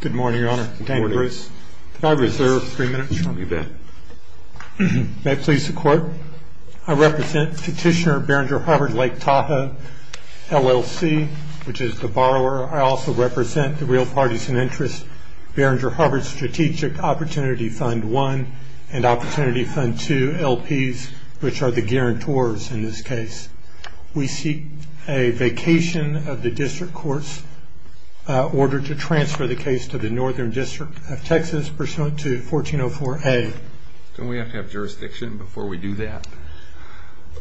Good morning, Your Honor. Can I reserve three minutes from the event? May it please the Court, I represent Petitioner Behringer Harvard Lake Tahoe LLC, which is the borrower. I also represent the real parties in interest, Behringer Harvard Strategic Opportunity Fund I and Opportunity Fund II LPs, which are the guarantors in this case. We seek a vacation of the district court's order to transfer the case to the Northern District of Texas pursuant to 1404A. Don't we have to have jurisdiction before we do that?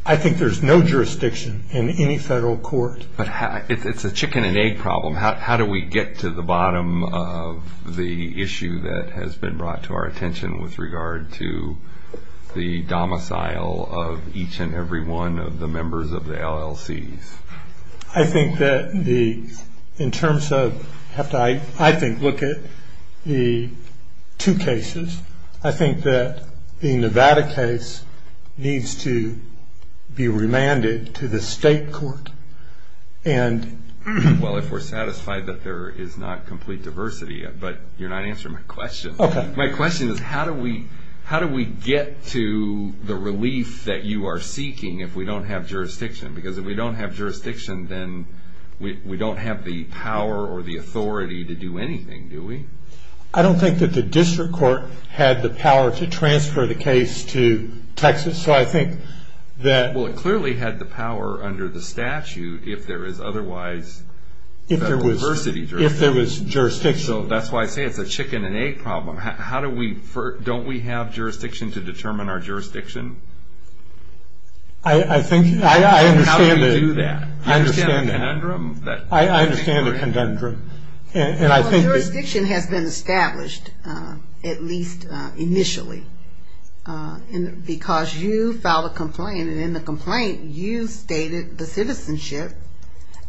I think there's no jurisdiction in any federal court. But it's a chicken and egg problem. How do we get to the bottom of the issue that has been brought to our attention with regard to the domicile of each and every one of the members of the LLCs? I think that in terms of, I think, look at the two cases, I think that the Nevada case needs to be remanded to the state court. Well, if we're satisfied that there is not complete diversity, but you're not answering my question. My question is, how do we get to the relief that you are seeking if we don't have jurisdiction? Because if we don't have jurisdiction, then we don't have the power or the authority to do anything, do we? I don't think that the district court had the power to transfer the case to Texas. So I think that... Well, it clearly had the power under the statute if there is otherwise diversity. If there was jurisdiction. So that's why I say it's a chicken and egg problem. Don't we have jurisdiction to determine our jurisdiction? I think... How do we do that? I understand that. I understand the conundrum. I understand the conundrum. And I think... Well, jurisdiction has been established, at least initially. Because you filed a complaint, and in the complaint you stated the citizenship,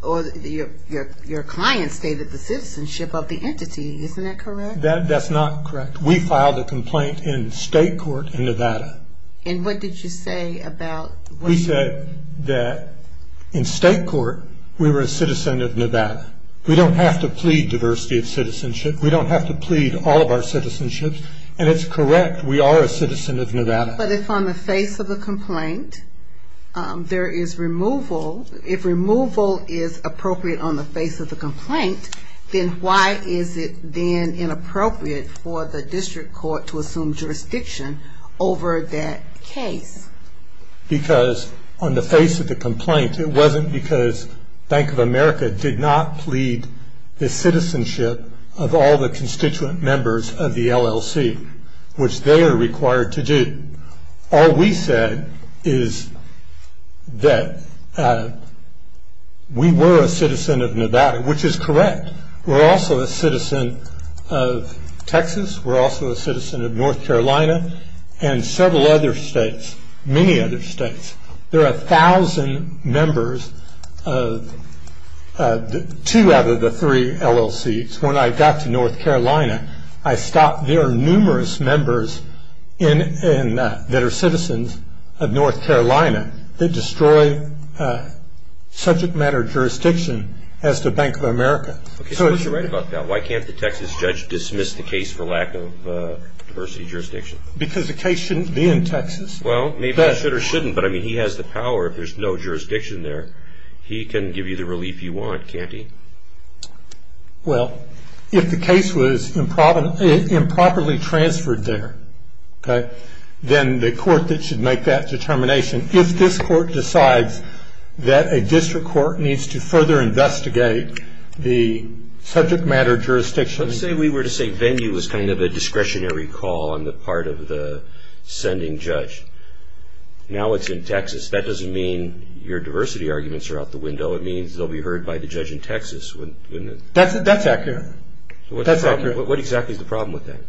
or your client stated the citizenship of the entity. Isn't that correct? That's not correct. We filed a complaint in state court in Nevada. And what did you say about... We said that in state court we were a citizen of Nevada. We don't have to plead diversity of citizenship. We don't have to plead all of our citizenships. And it's correct. We are a citizen of Nevada. But if on the face of the complaint there is removal, if removal is appropriate on the face of the complaint, then why is it then inappropriate for the district court to assume jurisdiction over that case? Because on the face of the complaint, it wasn't because Bank of America did not plead the citizenship of all the constituent members of the LLC, which they are required to do. All we said is that we were a citizen of Nevada, which is correct. We're also a citizen of Texas. We're also a citizen of North Carolina and several other states, many other states. There are a thousand members of two out of the three LLCs. When I got to North Carolina, I stopped... There are numerous members that are citizens of North Carolina that destroy subject matter jurisdiction as to Bank of America. So what's right about that? Why can't the Texas judge dismiss the case for lack of diversity of jurisdiction? Because the case shouldn't be in Texas. Well, maybe it should or shouldn't, but he has the power. If there's no jurisdiction there, he can give you the relief you want, can't he? Well, if the case was improperly transferred there, okay, then the court should make that determination. If this court decides that a district court needs to further investigate the subject matter jurisdiction... Let's say we were to say venue was kind of a discretionary call on the part of the sending judge. Now it's in Texas. So it means it will be heard by the judge in Texas. That's accurate. That's accurate. What exactly is the problem with that?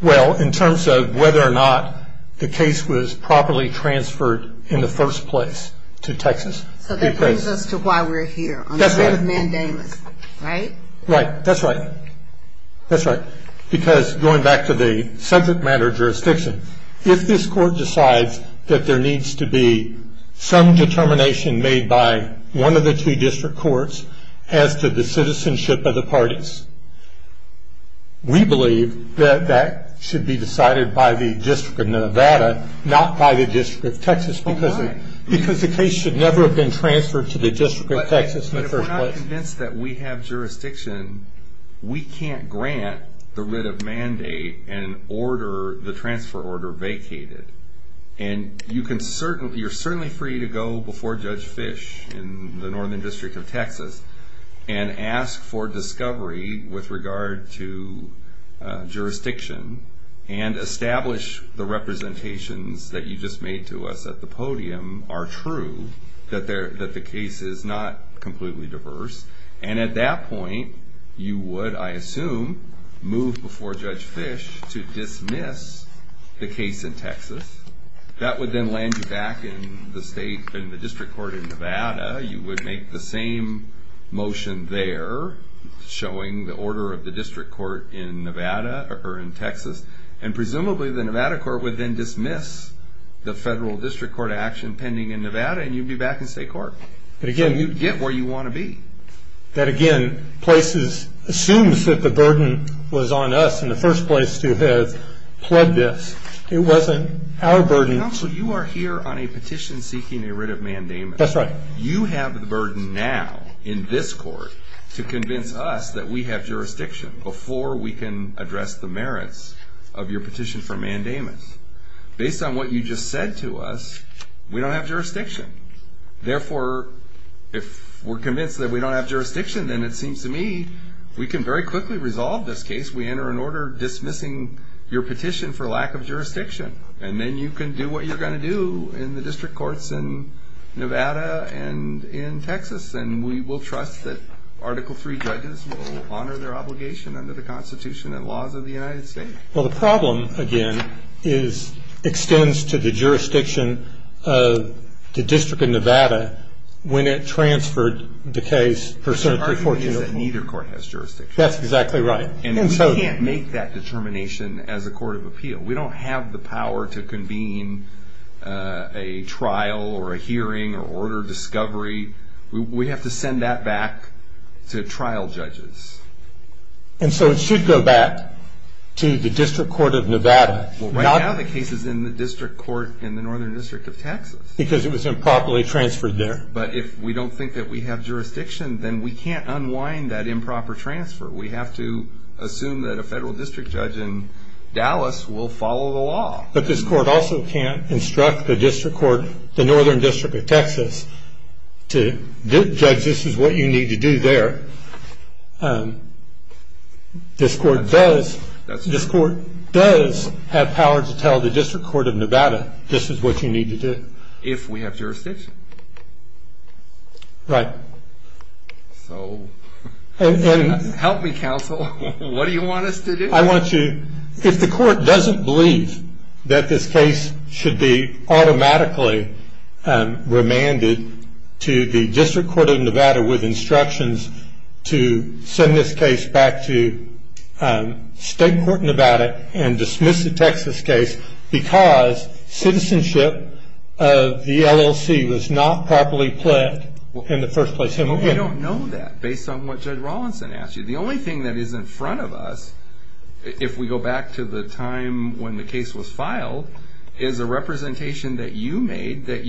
Well, in terms of whether or not the case was properly transferred in the first place to Texas. So that brings us to why we're here. That's right. Right? Right. That's right. That's right. Because going back to the subject matter jurisdiction, if this court decides that there needs to be some determination made by one of the two district courts as to the citizenship of the parties, we believe that that should be decided by the District of Nevada, not by the District of Texas. Oh, right. Because the case should never have been transferred to the District of Texas in the first place. When we're convinced that we have jurisdiction, we can't grant the writ of mandate and order the transfer order vacated. And you're certainly free to go before Judge Fish in the Northern District of Texas and ask for discovery with regard to jurisdiction and establish the representations that you just made to us at the podium are true, that the case is not completely diverse. And at that point, you would, I assume, move before Judge Fish to dismiss the case in Texas. That would then land you back in the district court in Nevada. You would make the same motion there, showing the order of the district court in Nevada or in Texas. And presumably, the Nevada court would then dismiss the federal district court action pending in Nevada, and you'd be back in state court. So you'd get where you want to be. That, again, assumes that the burden was on us in the first place to have pled this. It wasn't our burden. Counsel, you are here on a petition seeking a writ of mandamus. That's right. You have the burden now in this court to convince us that we have jurisdiction before we can address the merits of your petition for mandamus. Based on what you just said to us, we don't have jurisdiction. Therefore, if we're convinced that we don't have jurisdiction, then it seems to me we can very quickly resolve this case. We enter an order dismissing your petition for lack of jurisdiction, and then you can do what you're going to do in the district courts in Nevada and in Texas, and we will trust that Article III judges will honor their obligation under the Constitution and laws of the United States. Well, the problem, again, is it extends to the jurisdiction of the District of Nevada when it transferred the case for a certain portion of the court. The argument is that neither court has jurisdiction. That's exactly right. And we can't make that determination as a court of appeal. We don't have the power to convene a trial or a hearing or order discovery. We have to send that back to trial judges. And so it should go back to the District Court of Nevada. Well, right now the case is in the District Court in the Northern District of Texas. Because it was improperly transferred there. But if we don't think that we have jurisdiction, then we can't unwind that improper transfer. We have to assume that a federal district judge in Dallas will follow the law. But this court also can't instruct the district court, the Northern District of Texas, to judge this is what you need to do there. This court does have power to tell the District Court of Nevada this is what you need to do. If we have jurisdiction. Right. So help me, counsel. What do you want us to do? If the court doesn't believe that this case should be automatically remanded to the District Court of Nevada with instructions to send this case back to State Court Nevada and dismiss the Texas case because citizenship of the LLC was not properly pled in the first place. We don't know that based on what Judge Rawlinson asked you. The only thing that is in front of us, if we go back to the time when the case was filed, is a representation that you made that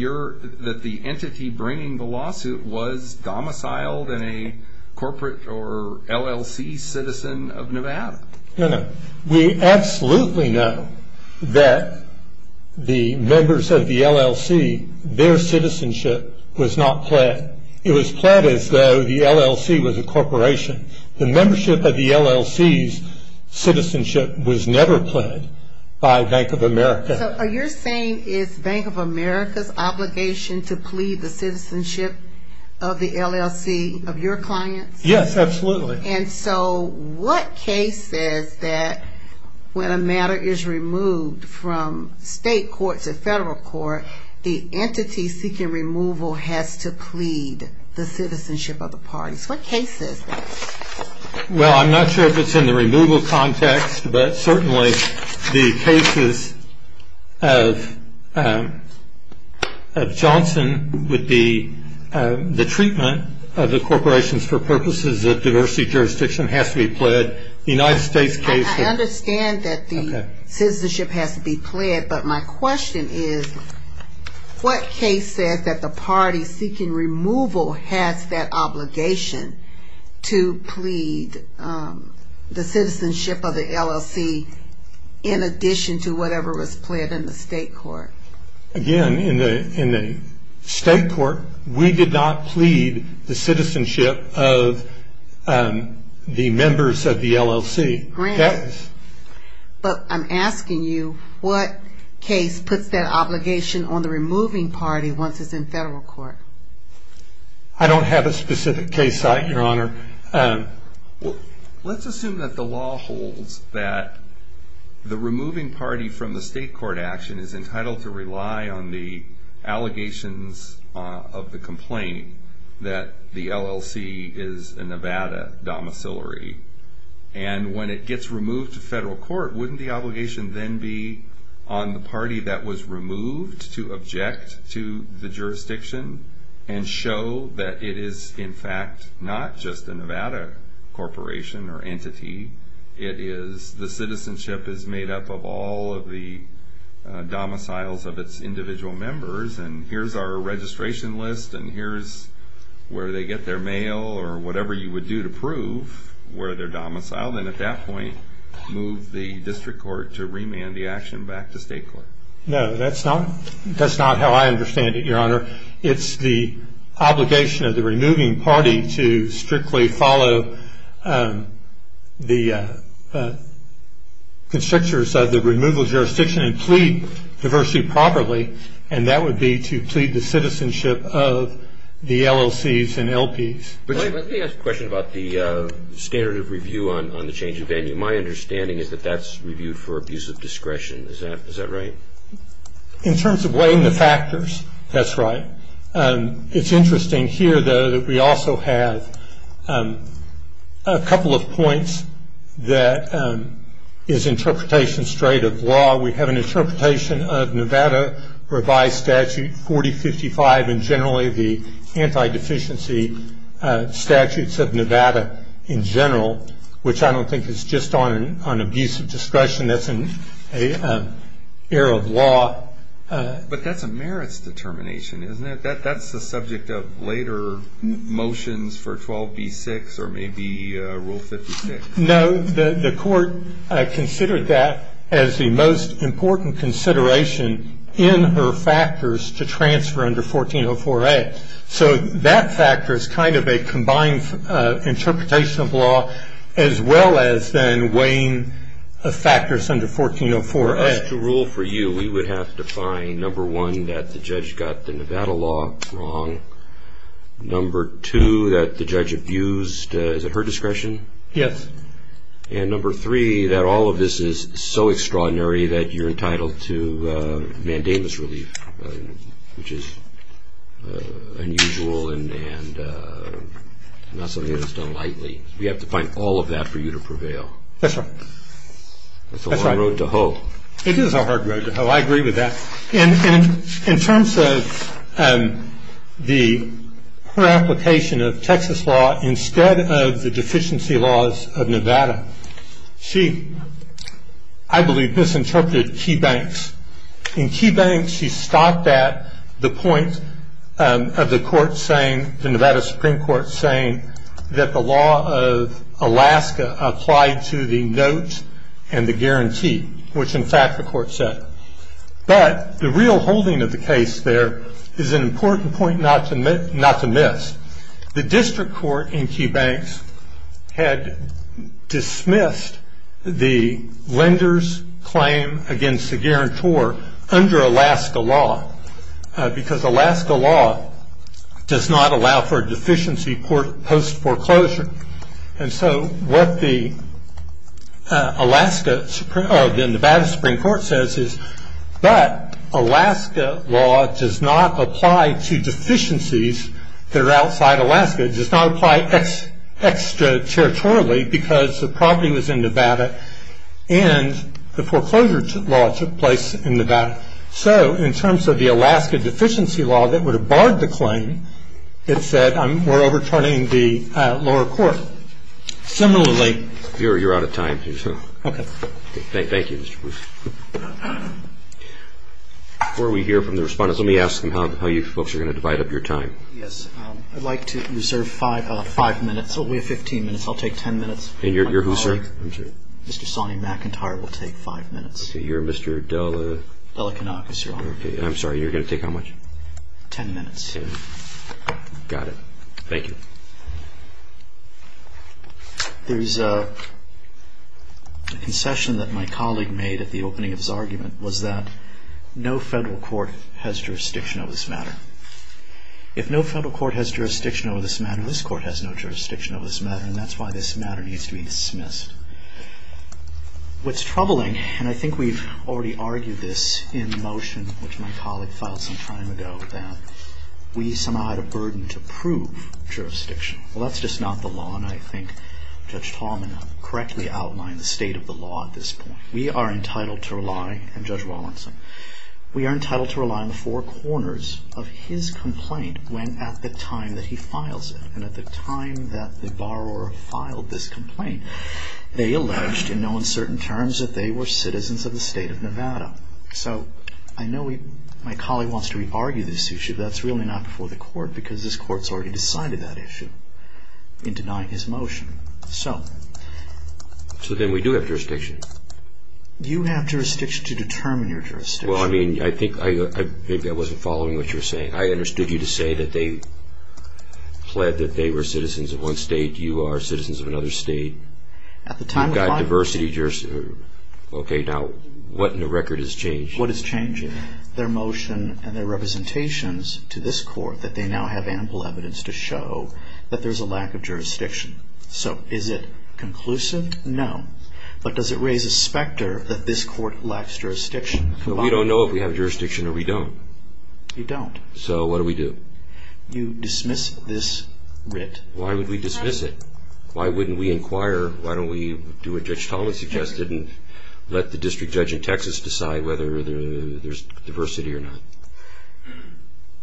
the entity bringing the lawsuit was domiciled in a corporate or LLC citizen of Nevada. No, no. We absolutely know that the members of the LLC, their citizenship was not pled. It was pled as though the LLC was a corporation. The membership of the LLC's citizenship was never pled by Bank of America. So are you saying it's Bank of America's obligation to plead the citizenship of the LLC of your clients? Yes, absolutely. And so what case says that when a matter is removed from State Court to Federal Court, the entity seeking removal has to plead the citizenship of the parties? What case says that? Well, I'm not sure if it's in the removal context, but certainly the cases of Johnson with the treatment of the corporations for purposes of diversity jurisdiction has to be pled. The United States case- I understand that the citizenship has to be pled, but my question is, what case says that the party seeking removal has that obligation to plead the citizenship of the LLC in addition to whatever was pled in the State Court? Again, in the State Court, we did not plead the citizenship of the members of the LLC. But I'm asking you, what case puts that obligation on the removing party once it's in Federal Court? I don't have a specific case site, Your Honor. Let's assume that the law holds that the removing party from the State Court action is entitled to rely on the allegations of the complaint that the LLC is a Nevada domiciliary. And when it gets removed to Federal Court, wouldn't the obligation then be on the party that was removed to object to the jurisdiction and show that it is, in fact, not just a Nevada corporation or entity, it is the citizenship is made up of all of the domiciles of its individual members, and here's our registration list, and here's where they get their mail, or whatever you would do to prove where they're domiciled, and at that point move the District Court to remand the action back to State Court. No, that's not how I understand it, Your Honor. It's the obligation of the removing party to strictly follow the constrictors of the removal jurisdiction and plead diversity properly, and that would be to plead the citizenship of the LLCs and LPs. Let me ask a question about the standard of review on the change of venue. My understanding is that that's reviewed for abuse of discretion. Is that right? In terms of weighing the factors, that's right. It's interesting here, though, that we also have a couple of points that is interpretation straight of law. We have an interpretation of Nevada revised statute 4055 and generally the anti-deficiency statutes of Nevada in general, which I don't think is just on abuse of discretion. That's an error of law. But that's a merits determination, isn't it? That's the subject of later motions for 12b-6 or maybe Rule 56. No, the court considered that as the most important consideration in her factors to transfer under 1404A. So that factor is kind of a combined interpretation of law as well as then weighing factors under 1404A. As to rule for you, we would have to find, number one, that the judge got the Nevada law wrong, number two, that the judge abused, is it her discretion? Yes. And number three, that all of this is so extraordinary that you're entitled to mandamus relief, which is unusual and not something that is done lightly. We have to find all of that for you to prevail. That's right. That's a hard road to hoe. It is a hard road to hoe. I agree with that. In terms of her application of Texas law instead of the deficiency laws of Nevada, she, I believe, misinterpreted Key Banks. In Key Banks, she stopped at the point of the court saying, the Nevada Supreme Court saying, that the law of Alaska applied to the note and the guarantee, which, in fact, the court said. But the real holding of the case there is an important point not to miss. The district court in Key Banks had dismissed the lender's claim against the guarantor under Alaska law because Alaska law does not allow for a deficiency post-foreclosure. And so what the Nevada Supreme Court says is, but Alaska law does not apply to deficiencies that are outside Alaska. It does not apply extraterritorially because the property was in Nevada and the foreclosure law took place in Nevada. So in terms of the Alaska deficiency law that would have barred the claim, it said, we're overturning the lower court. Similarly- You're out of time. Okay. Thank you, Mr. Bruce. Before we hear from the respondents, let me ask them how you folks are going to divide up your time. Yes. I'd like to reserve five minutes. We have 15 minutes. I'll take 10 minutes. And you're who, sir? I'm sorry. Mr. Sonny McIntyre will take five minutes. You're Mr. Dela- Dela Kanakis, Your Honor. Okay. I'm sorry. You're going to take how much? Ten minutes. Okay. Got it. Thank you. There's a concession that my colleague made at the opening of his argument, was that no federal court has jurisdiction over this matter. If no federal court has jurisdiction over this matter, this court has no jurisdiction over this matter, and that's why this matter needs to be dismissed. What's troubling, and I think we've already argued this in motion, which my colleague filed some time ago, that we somehow had a burden to prove jurisdiction. Well, that's just not the law, and I think Judge Tallman correctly outlined the state of the law at this point. We are entitled to rely, and Judge Rawlinson, we are entitled to rely on the four corners of his complaint when at the time that he files it, and at the time that the borrower filed this complaint, they alleged in no uncertain terms that they were citizens of the state of Nevada. So I know my colleague wants to re-argue this issue, but that's really not before the court, because this court's already decided that issue in denying his motion. So then we do have jurisdiction. You have jurisdiction to determine your jurisdiction. Well, I mean, I think maybe I wasn't following what you were saying. I understood you to say that they pled that they were citizens of one state, you are citizens of another state. At the time of filing. You've got diversity. Okay, now what in the record has changed? What is changing? Their motion and their representations to this court that they now have ample evidence to show that there's a lack of jurisdiction. So is it conclusive? No. But does it raise a specter that this court lacks jurisdiction? We don't know if we have jurisdiction or we don't. You don't. So what do we do? You dismiss this writ. Why would we dismiss it? Why wouldn't we inquire? Why don't we do what Judge Talmadge suggested and let the district judge in Texas decide whether there's diversity or not?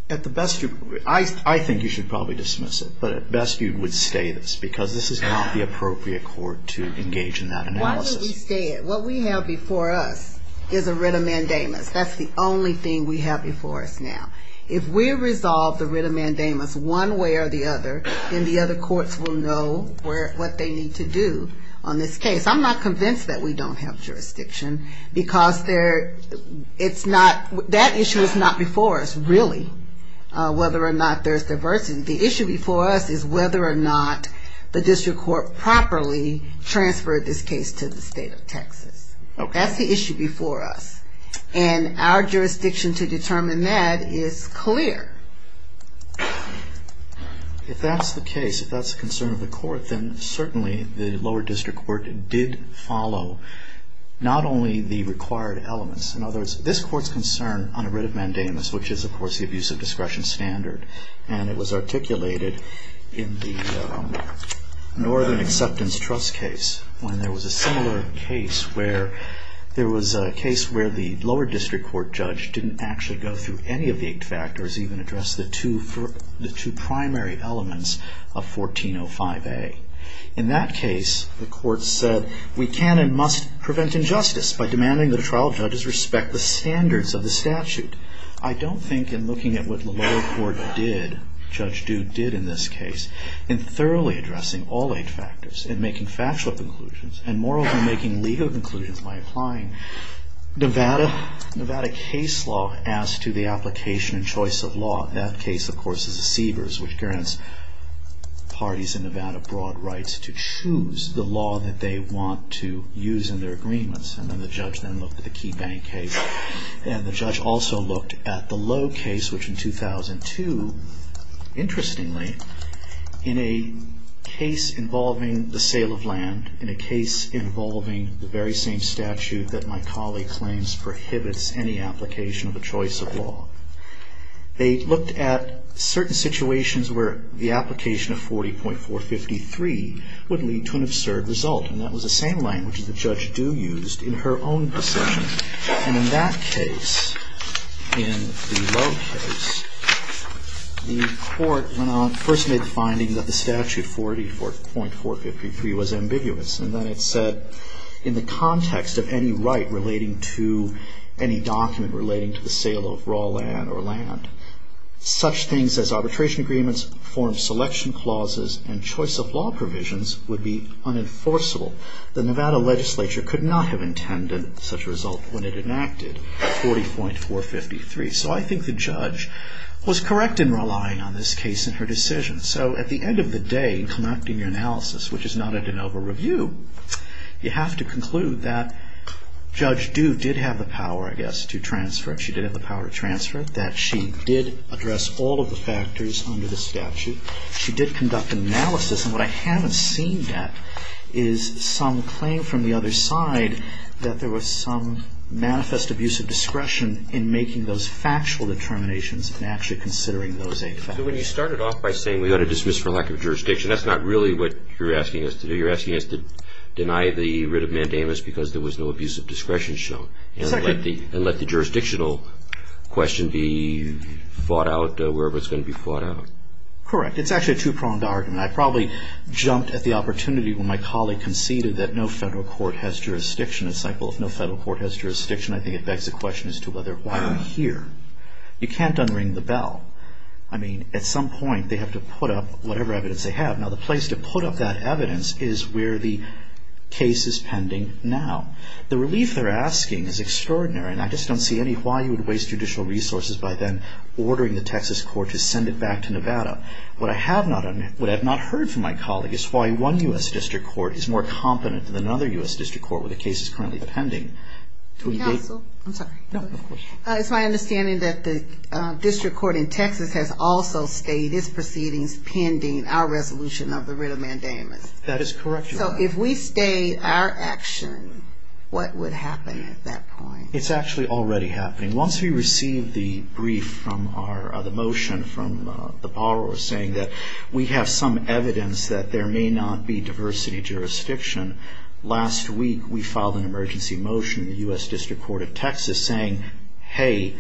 At the best, I think you should probably dismiss it, but at best you would stay this, because this is not the appropriate court to engage in that analysis. Why don't we stay it? What we have before us is a writ of mandamus. That's the only thing we have before us now. If we resolve the writ of mandamus one way or the other, then the other courts will know what they need to do on this case. I'm not convinced that we don't have jurisdiction, because that issue is not before us, really, whether or not there's diversity. The issue before us is whether or not the district court properly transferred this case to the state of Texas. That's the issue before us. And our jurisdiction to determine that is clear. If that's the case, if that's the concern of the court, then certainly the lower district court did follow not only the required elements. In other words, this court's concern on a writ of mandamus, which is, of course, the abuse of discretion standard, and it was articulated in the Northern Acceptance Trust case, when there was a similar case where there was a case where the lower district court judge didn't actually go through any of the eight factors, even address the two primary elements of 1405A. In that case, the court said, we can and must prevent injustice by demanding that the trial judges respect the standards of the statute. I don't think in looking at what the lower court did, Judge Dude did in this case, in thoroughly addressing all eight factors and making factual conclusions and moreover making legal conclusions by applying Nevada case law as to the application and choice of law. That case, of course, is the Siebers, which grants parties in Nevada broad rights to choose the law that they want to use in their agreements. And then the judge then looked at the Key Bank case. And the judge also looked at the Lowe case, which in 2002, interestingly, in a case involving the sale of land, in a case involving the very same statute that my colleague claims prohibits any application of a choice of law, they looked at certain situations where the application of 40.453 would lead to an absurd result. And that was the same language that Judge Dude used in her own decision. And in that case, in the Lowe case, the court first made the finding that the statute 40.453 was ambiguous. And then it said, in the context of any right relating to any document relating to the sale of raw land or land, such things as arbitration agreements, form selection clauses, and choice of law provisions would be unenforceable. The Nevada legislature could not have intended such a result when it enacted 40.453. So I think the judge was correct in relying on this case in her decision. So at the end of the day, in conducting your analysis, which is not a de novo review, you have to conclude that Judge Dude did have the power, I guess, to transfer it. She did have the power to transfer it, that she did address all of the factors under the statute. She did conduct analysis. And what I haven't seen yet is some claim from the other side that there was some manifest abusive discretion in making those factual determinations and actually considering those facts. So when you started off by saying we ought to dismiss for lack of jurisdiction, that's not really what you're asking us to do. You're asking us to deny the writ of mandamus because there was no abusive discretion shown. And let the jurisdictional question be fought out wherever it's going to be fought out. Correct. It's actually a two-pronged argument. I probably jumped at the opportunity when my colleague conceded that no federal court has jurisdiction. It's like, well, if no federal court has jurisdiction, I think it begs the question as to why are we here? You can't unring the bell. I mean, at some point they have to put up whatever evidence they have. Now, the place to put up that evidence is where the case is pending now. The relief they're asking is extraordinary, and I just don't see any why you would waste judicial resources by then ordering the Texas court to send it back to Nevada. What I have not heard from my colleague is why one U.S. district court is more competent than another U.S. district court where the case is currently pending. Can I ask a question? I'm sorry. No, go ahead. It's my understanding that the district court in Texas has also stayed its proceedings pending our resolution of the writ of mandamus. That is correct, Your Honor. So if we stayed our action, what would happen at that point? It's actually already happening. Once we receive the brief from the motion from the borrower saying that we have some evidence that there may not be diversity jurisdiction, last week we filed an emergency motion in the U.S. District Court of Texas saying, hey,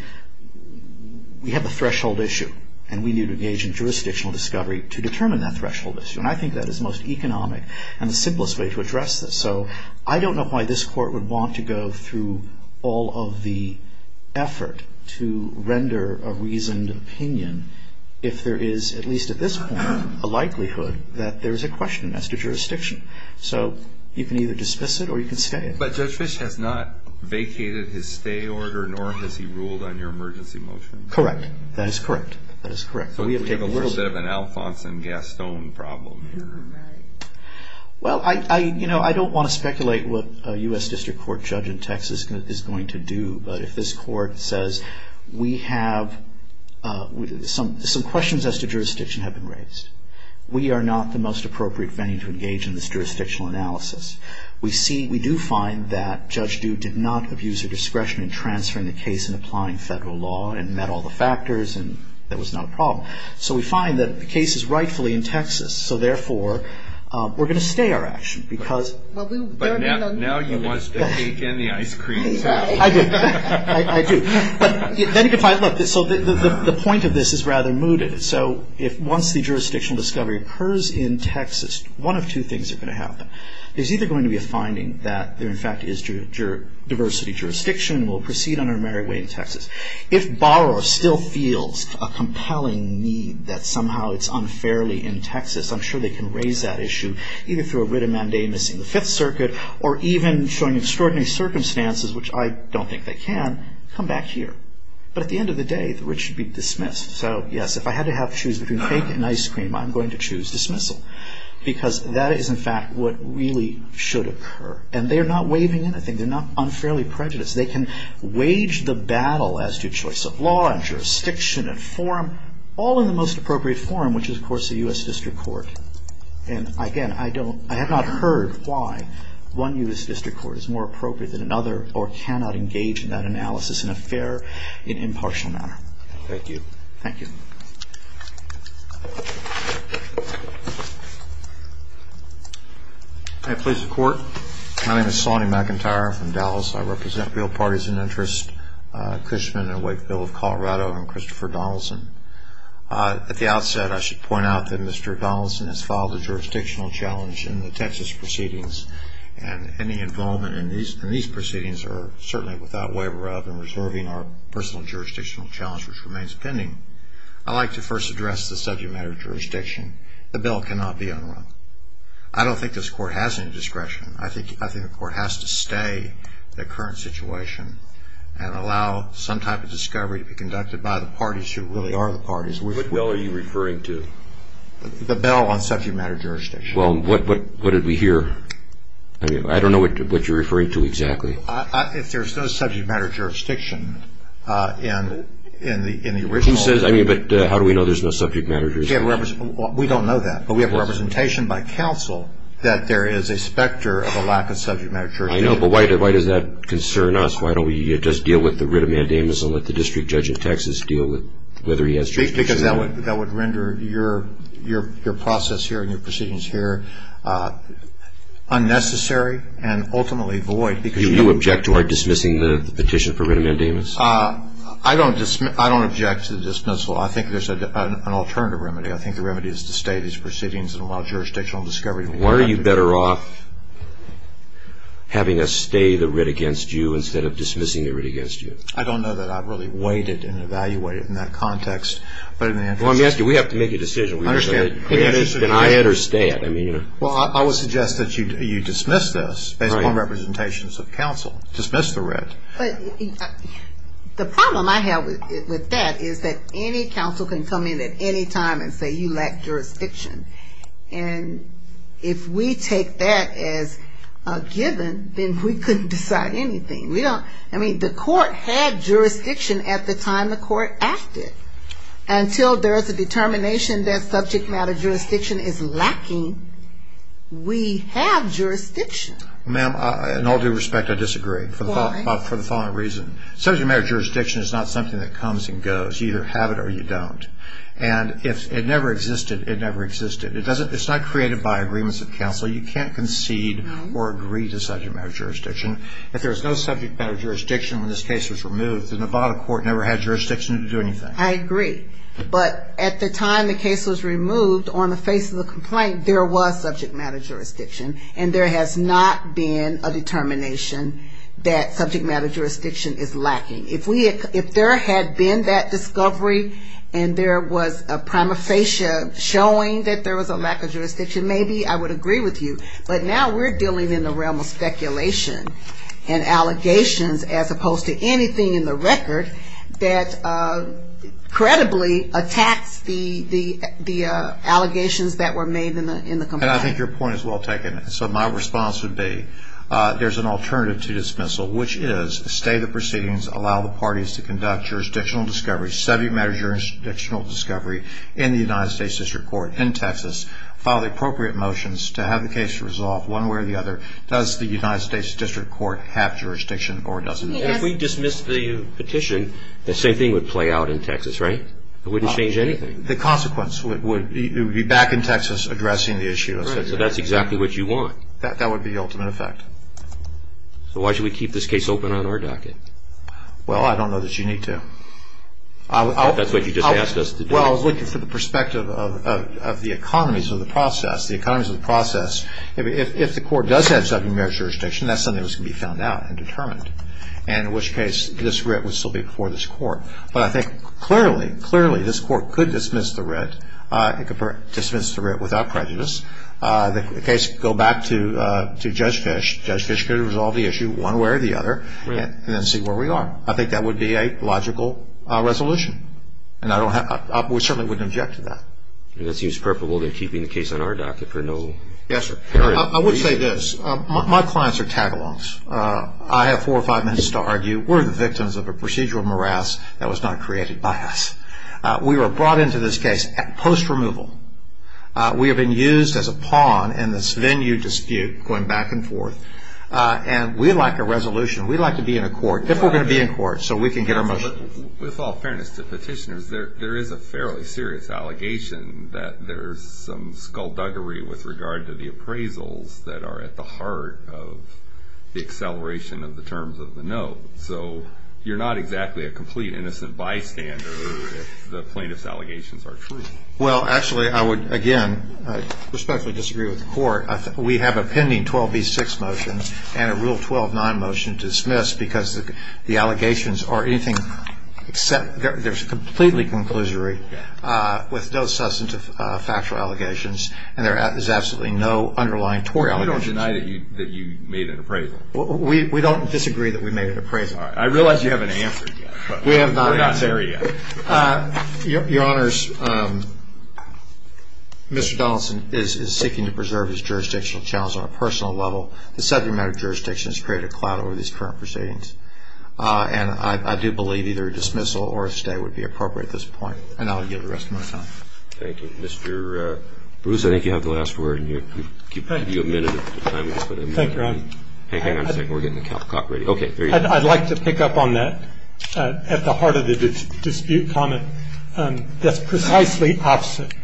we have a threshold issue, and we need to engage in jurisdictional discovery to determine that threshold issue. And I think that is the most economic and the simplest way to address this. So I don't know why this court would want to go through all of the effort to render a reasoned opinion if there is, at least at this point, a likelihood that there is a question as to jurisdiction. So you can either dismiss it or you can stay it. But Judge Fisch has not vacated his stay order, nor has he ruled on your emergency motion. Correct. That is correct. That is correct. So we have a little bit of an Alfonso Gaston problem here. Right. Well, I don't want to speculate what a U.S. District Court judge in Texas is going to do, but if this court says we have some questions as to jurisdiction have been raised. We are not the most appropriate venue to engage in this jurisdictional analysis. We do find that Judge Due did not abuse her discretion in transferring the case and applying federal law and met all the factors, and that was not a problem. So we find that the case is rightfully in Texas. So, therefore, we're going to stay our action. But now he wants to take in the ice cream. I do. I do. But then you can find, look, so the point of this is rather mooted. So once the jurisdictional discovery occurs in Texas, one of two things are going to happen. There's either going to be a finding that there, in fact, is diversity jurisdiction and we'll proceed on our merry way in Texas. If Barrow still feels a compelling need that somehow it's unfairly in Texas, I'm sure they can raise that issue either through a writ of mandamus in the Fifth Circuit or even showing extraordinary circumstances, which I don't think they can, come back here. But at the end of the day, the writ should be dismissed. So, yes, if I had to have to choose between cake and ice cream, I'm going to choose dismissal because that is, in fact, what really should occur. And they're not waiving anything. They're not unfairly prejudiced. They can wage the battle as to choice of law and jurisdiction and form all in the most appropriate form, which is, of course, the U.S. District Court. And, again, I don't, I have not heard why one U.S. District Court is more appropriate than another or cannot engage in that analysis in a fair and impartial manner. Thank you. Thank you. Hi, police and court. My name is Sonny McIntyre. I'm from Dallas. I represent real parties in interest, Cushman and Wakeville of Colorado and Christopher Donaldson. At the outset, I should point out that Mr. Donaldson has filed a jurisdictional challenge in the Texas proceedings and any involvement in these proceedings are certainly without waiver rather than reserving our personal jurisdictional challenge, which remains pending. I'd like to first address the subject matter of jurisdiction. The bill cannot be unrun. I don't think this court has any discretion. I think the court has to stay the current situation and allow some type of discovery to be conducted by the parties who really are the parties. What bill are you referring to? The bill on subject matter of jurisdiction. Well, what did we hear? I don't know what you're referring to exactly. If there's no subject matter of jurisdiction in the original. Who says? I mean, but how do we know there's no subject matter of jurisdiction? We don't know that, but we have representation by counsel that there is a specter of a lack of subject matter of jurisdiction. I know, but why does that concern us? Why don't we just deal with the writ of mandamus and let the district judge in Texas deal with whether he has jurisdiction? Because that would render your process here and your proceedings here unnecessary and ultimately void. Do you object to our dismissing the petition for writ of mandamus? I don't object to the dismissal. I think there's an alternative remedy. I think the remedy is to stay these proceedings and allow jurisdictional discovery to be conducted. Why are you better off having us stay the writ against you instead of dismissing the writ against you? I don't know that I've really weighed it and evaluated it in that context. Well, let me ask you, we have to make a decision. I understand. I understand. Well, I would suggest that you dismiss this based on representations of counsel. Dismiss the writ. But the problem I have with that is that any counsel can come in at any time and say you lack jurisdiction. And if we take that as a given, then we couldn't decide anything. I mean, the court had jurisdiction at the time the court acted. Until there is a determination that subject matter jurisdiction is lacking, we have jurisdiction. Ma'am, in all due respect, I disagree. Why? For the following reason. Subject matter jurisdiction is not something that comes and goes. You either have it or you don't. And it never existed. It never existed. It's not created by agreements of counsel. You can't concede or agree to subject matter jurisdiction. If there was no subject matter jurisdiction when this case was removed, the Nevada court never had jurisdiction to do anything. I agree. But at the time the case was removed, on the face of the complaint, there was subject matter jurisdiction. And there has not been a determination that subject matter jurisdiction is lacking. If there had been that discovery and there was a prima facie showing that there was a lack of jurisdiction, maybe I would agree with you. But now we're dealing in the realm of speculation and allegations as opposed to anything in the record that credibly attacks the allegations that were made in the complaint. And I think your point is well taken. So my response would be there's an alternative to dismissal, which is stay the proceedings, allow the parties to conduct jurisdictional discovery, subject matter jurisdictional discovery, in the United States District Court in Texas, file the appropriate motions to have the case resolved one way or the other. Does the United States District Court have jurisdiction or doesn't it? If we dismiss the petition, the same thing would play out in Texas, right? It wouldn't change anything. The consequence would be back in Texas addressing the issue. Right. So that's exactly what you want. That would be the ultimate effect. So why should we keep this case open on our docket? Well, I don't know that you need to. That's what you just asked us to do. Well, I was looking for the perspective of the economies of the process, the economies of the process. If the court does have subject matter jurisdiction, that's something that's going to be found out and determined, and in which case this writ would still be before this court. But I think clearly, clearly this court could dismiss the writ. It could dismiss the writ without prejudice. The case could go back to Judge Fish. Judge Fish could resolve the issue one way or the other and then see where we are. I think that would be a logical resolution. And we certainly wouldn't object to that. That seems preferable than keeping the case on our docket for no reason. Yes, sir. I would say this. My clients are tagalongs. I have four or five minutes to argue. We're the victims of a procedural morass that was not created by us. We were brought into this case post-removal. We have been used as a pawn in this venue dispute going back and forth. And we'd like a resolution. We'd like to be in a court. If we're going to be in court so we can get our motion. With all fairness to petitioners, there is a fairly serious allegation that there's some skullduggery with regard to the appraisals that are at the heart of the acceleration of the terms of the note. So you're not exactly a complete innocent bystander if the plaintiff's allegations are true. Well, actually, I would, again, respectfully disagree with the court. We have a pending 12B6 motion and a Rule 12-9 motion to dismiss because the allegations are anything except they're completely conclusory with no substance of factual allegations, and there is absolutely no underlying tory allegation. You don't deny that you made an appraisal? We don't disagree that we made an appraisal. I realize you haven't answered yet. We're not there yet. Your Honors, Mr. Donaldson is seeking to preserve his jurisdictional challenge on a personal level. The subject matter of jurisdiction has created a cloud over these current proceedings, and I do believe either a dismissal or a stay would be appropriate at this point, and I'll yield the rest of my time. Thank you. Mr. Bruce, I think you have the last word, and we'll give you a minute. Thank you, Your Honor. Hang on a second. We're getting the calicock ready. Okay, there you go. I'd like to pick up on that at the heart of the dispute comment. That's precisely opposite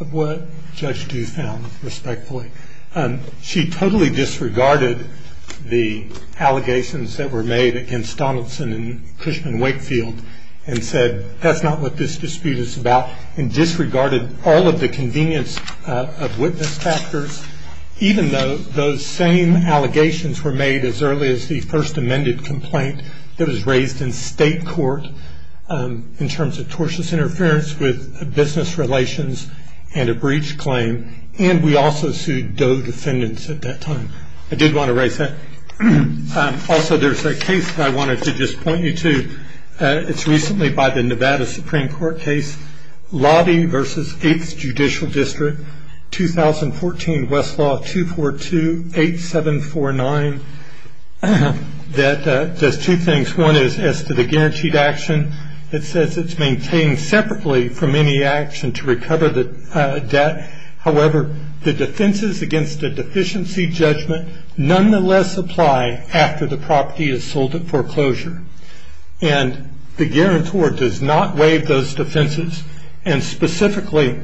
of what Judge Dew found, respectfully. She totally disregarded the allegations that were made against Donaldson and Cushman Wakefield and said that's not what this dispute is about, and disregarded all of the convenience of witness factors, even though those same allegations were made as early as the first amended complaint that was raised in state court in terms of tortious interference with business relations and a breach claim, and we also sued Doe defendants at that time. I did want to raise that. Also, there's a case that I wanted to just point you to. It's recently by the Nevada Supreme Court case, Loddy v. 8th Judicial District, 2014 Westlaw 2428749, that does two things. One is as to the guaranteed action, it says it's maintained separately from any action to recover the debt. However, the defenses against a deficiency judgment nonetheless apply after the property is sold at foreclosure, and the guarantor does not waive those defenses, and specifically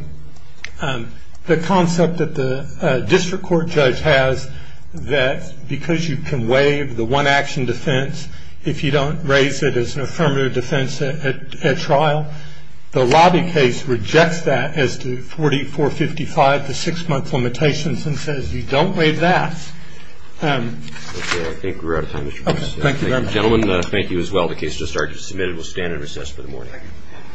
the concept that the district court judge has that because you can waive the one-action defense if you don't raise it as an affirmative defense at trial. The Loddy case rejects that as to 4455, the six-month limitations, and says you don't waive that. Okay, I think we're out of time. Okay, thank you very much. Gentlemen, thank you as well. The case just started to be submitted. We'll stand in recess for the morning.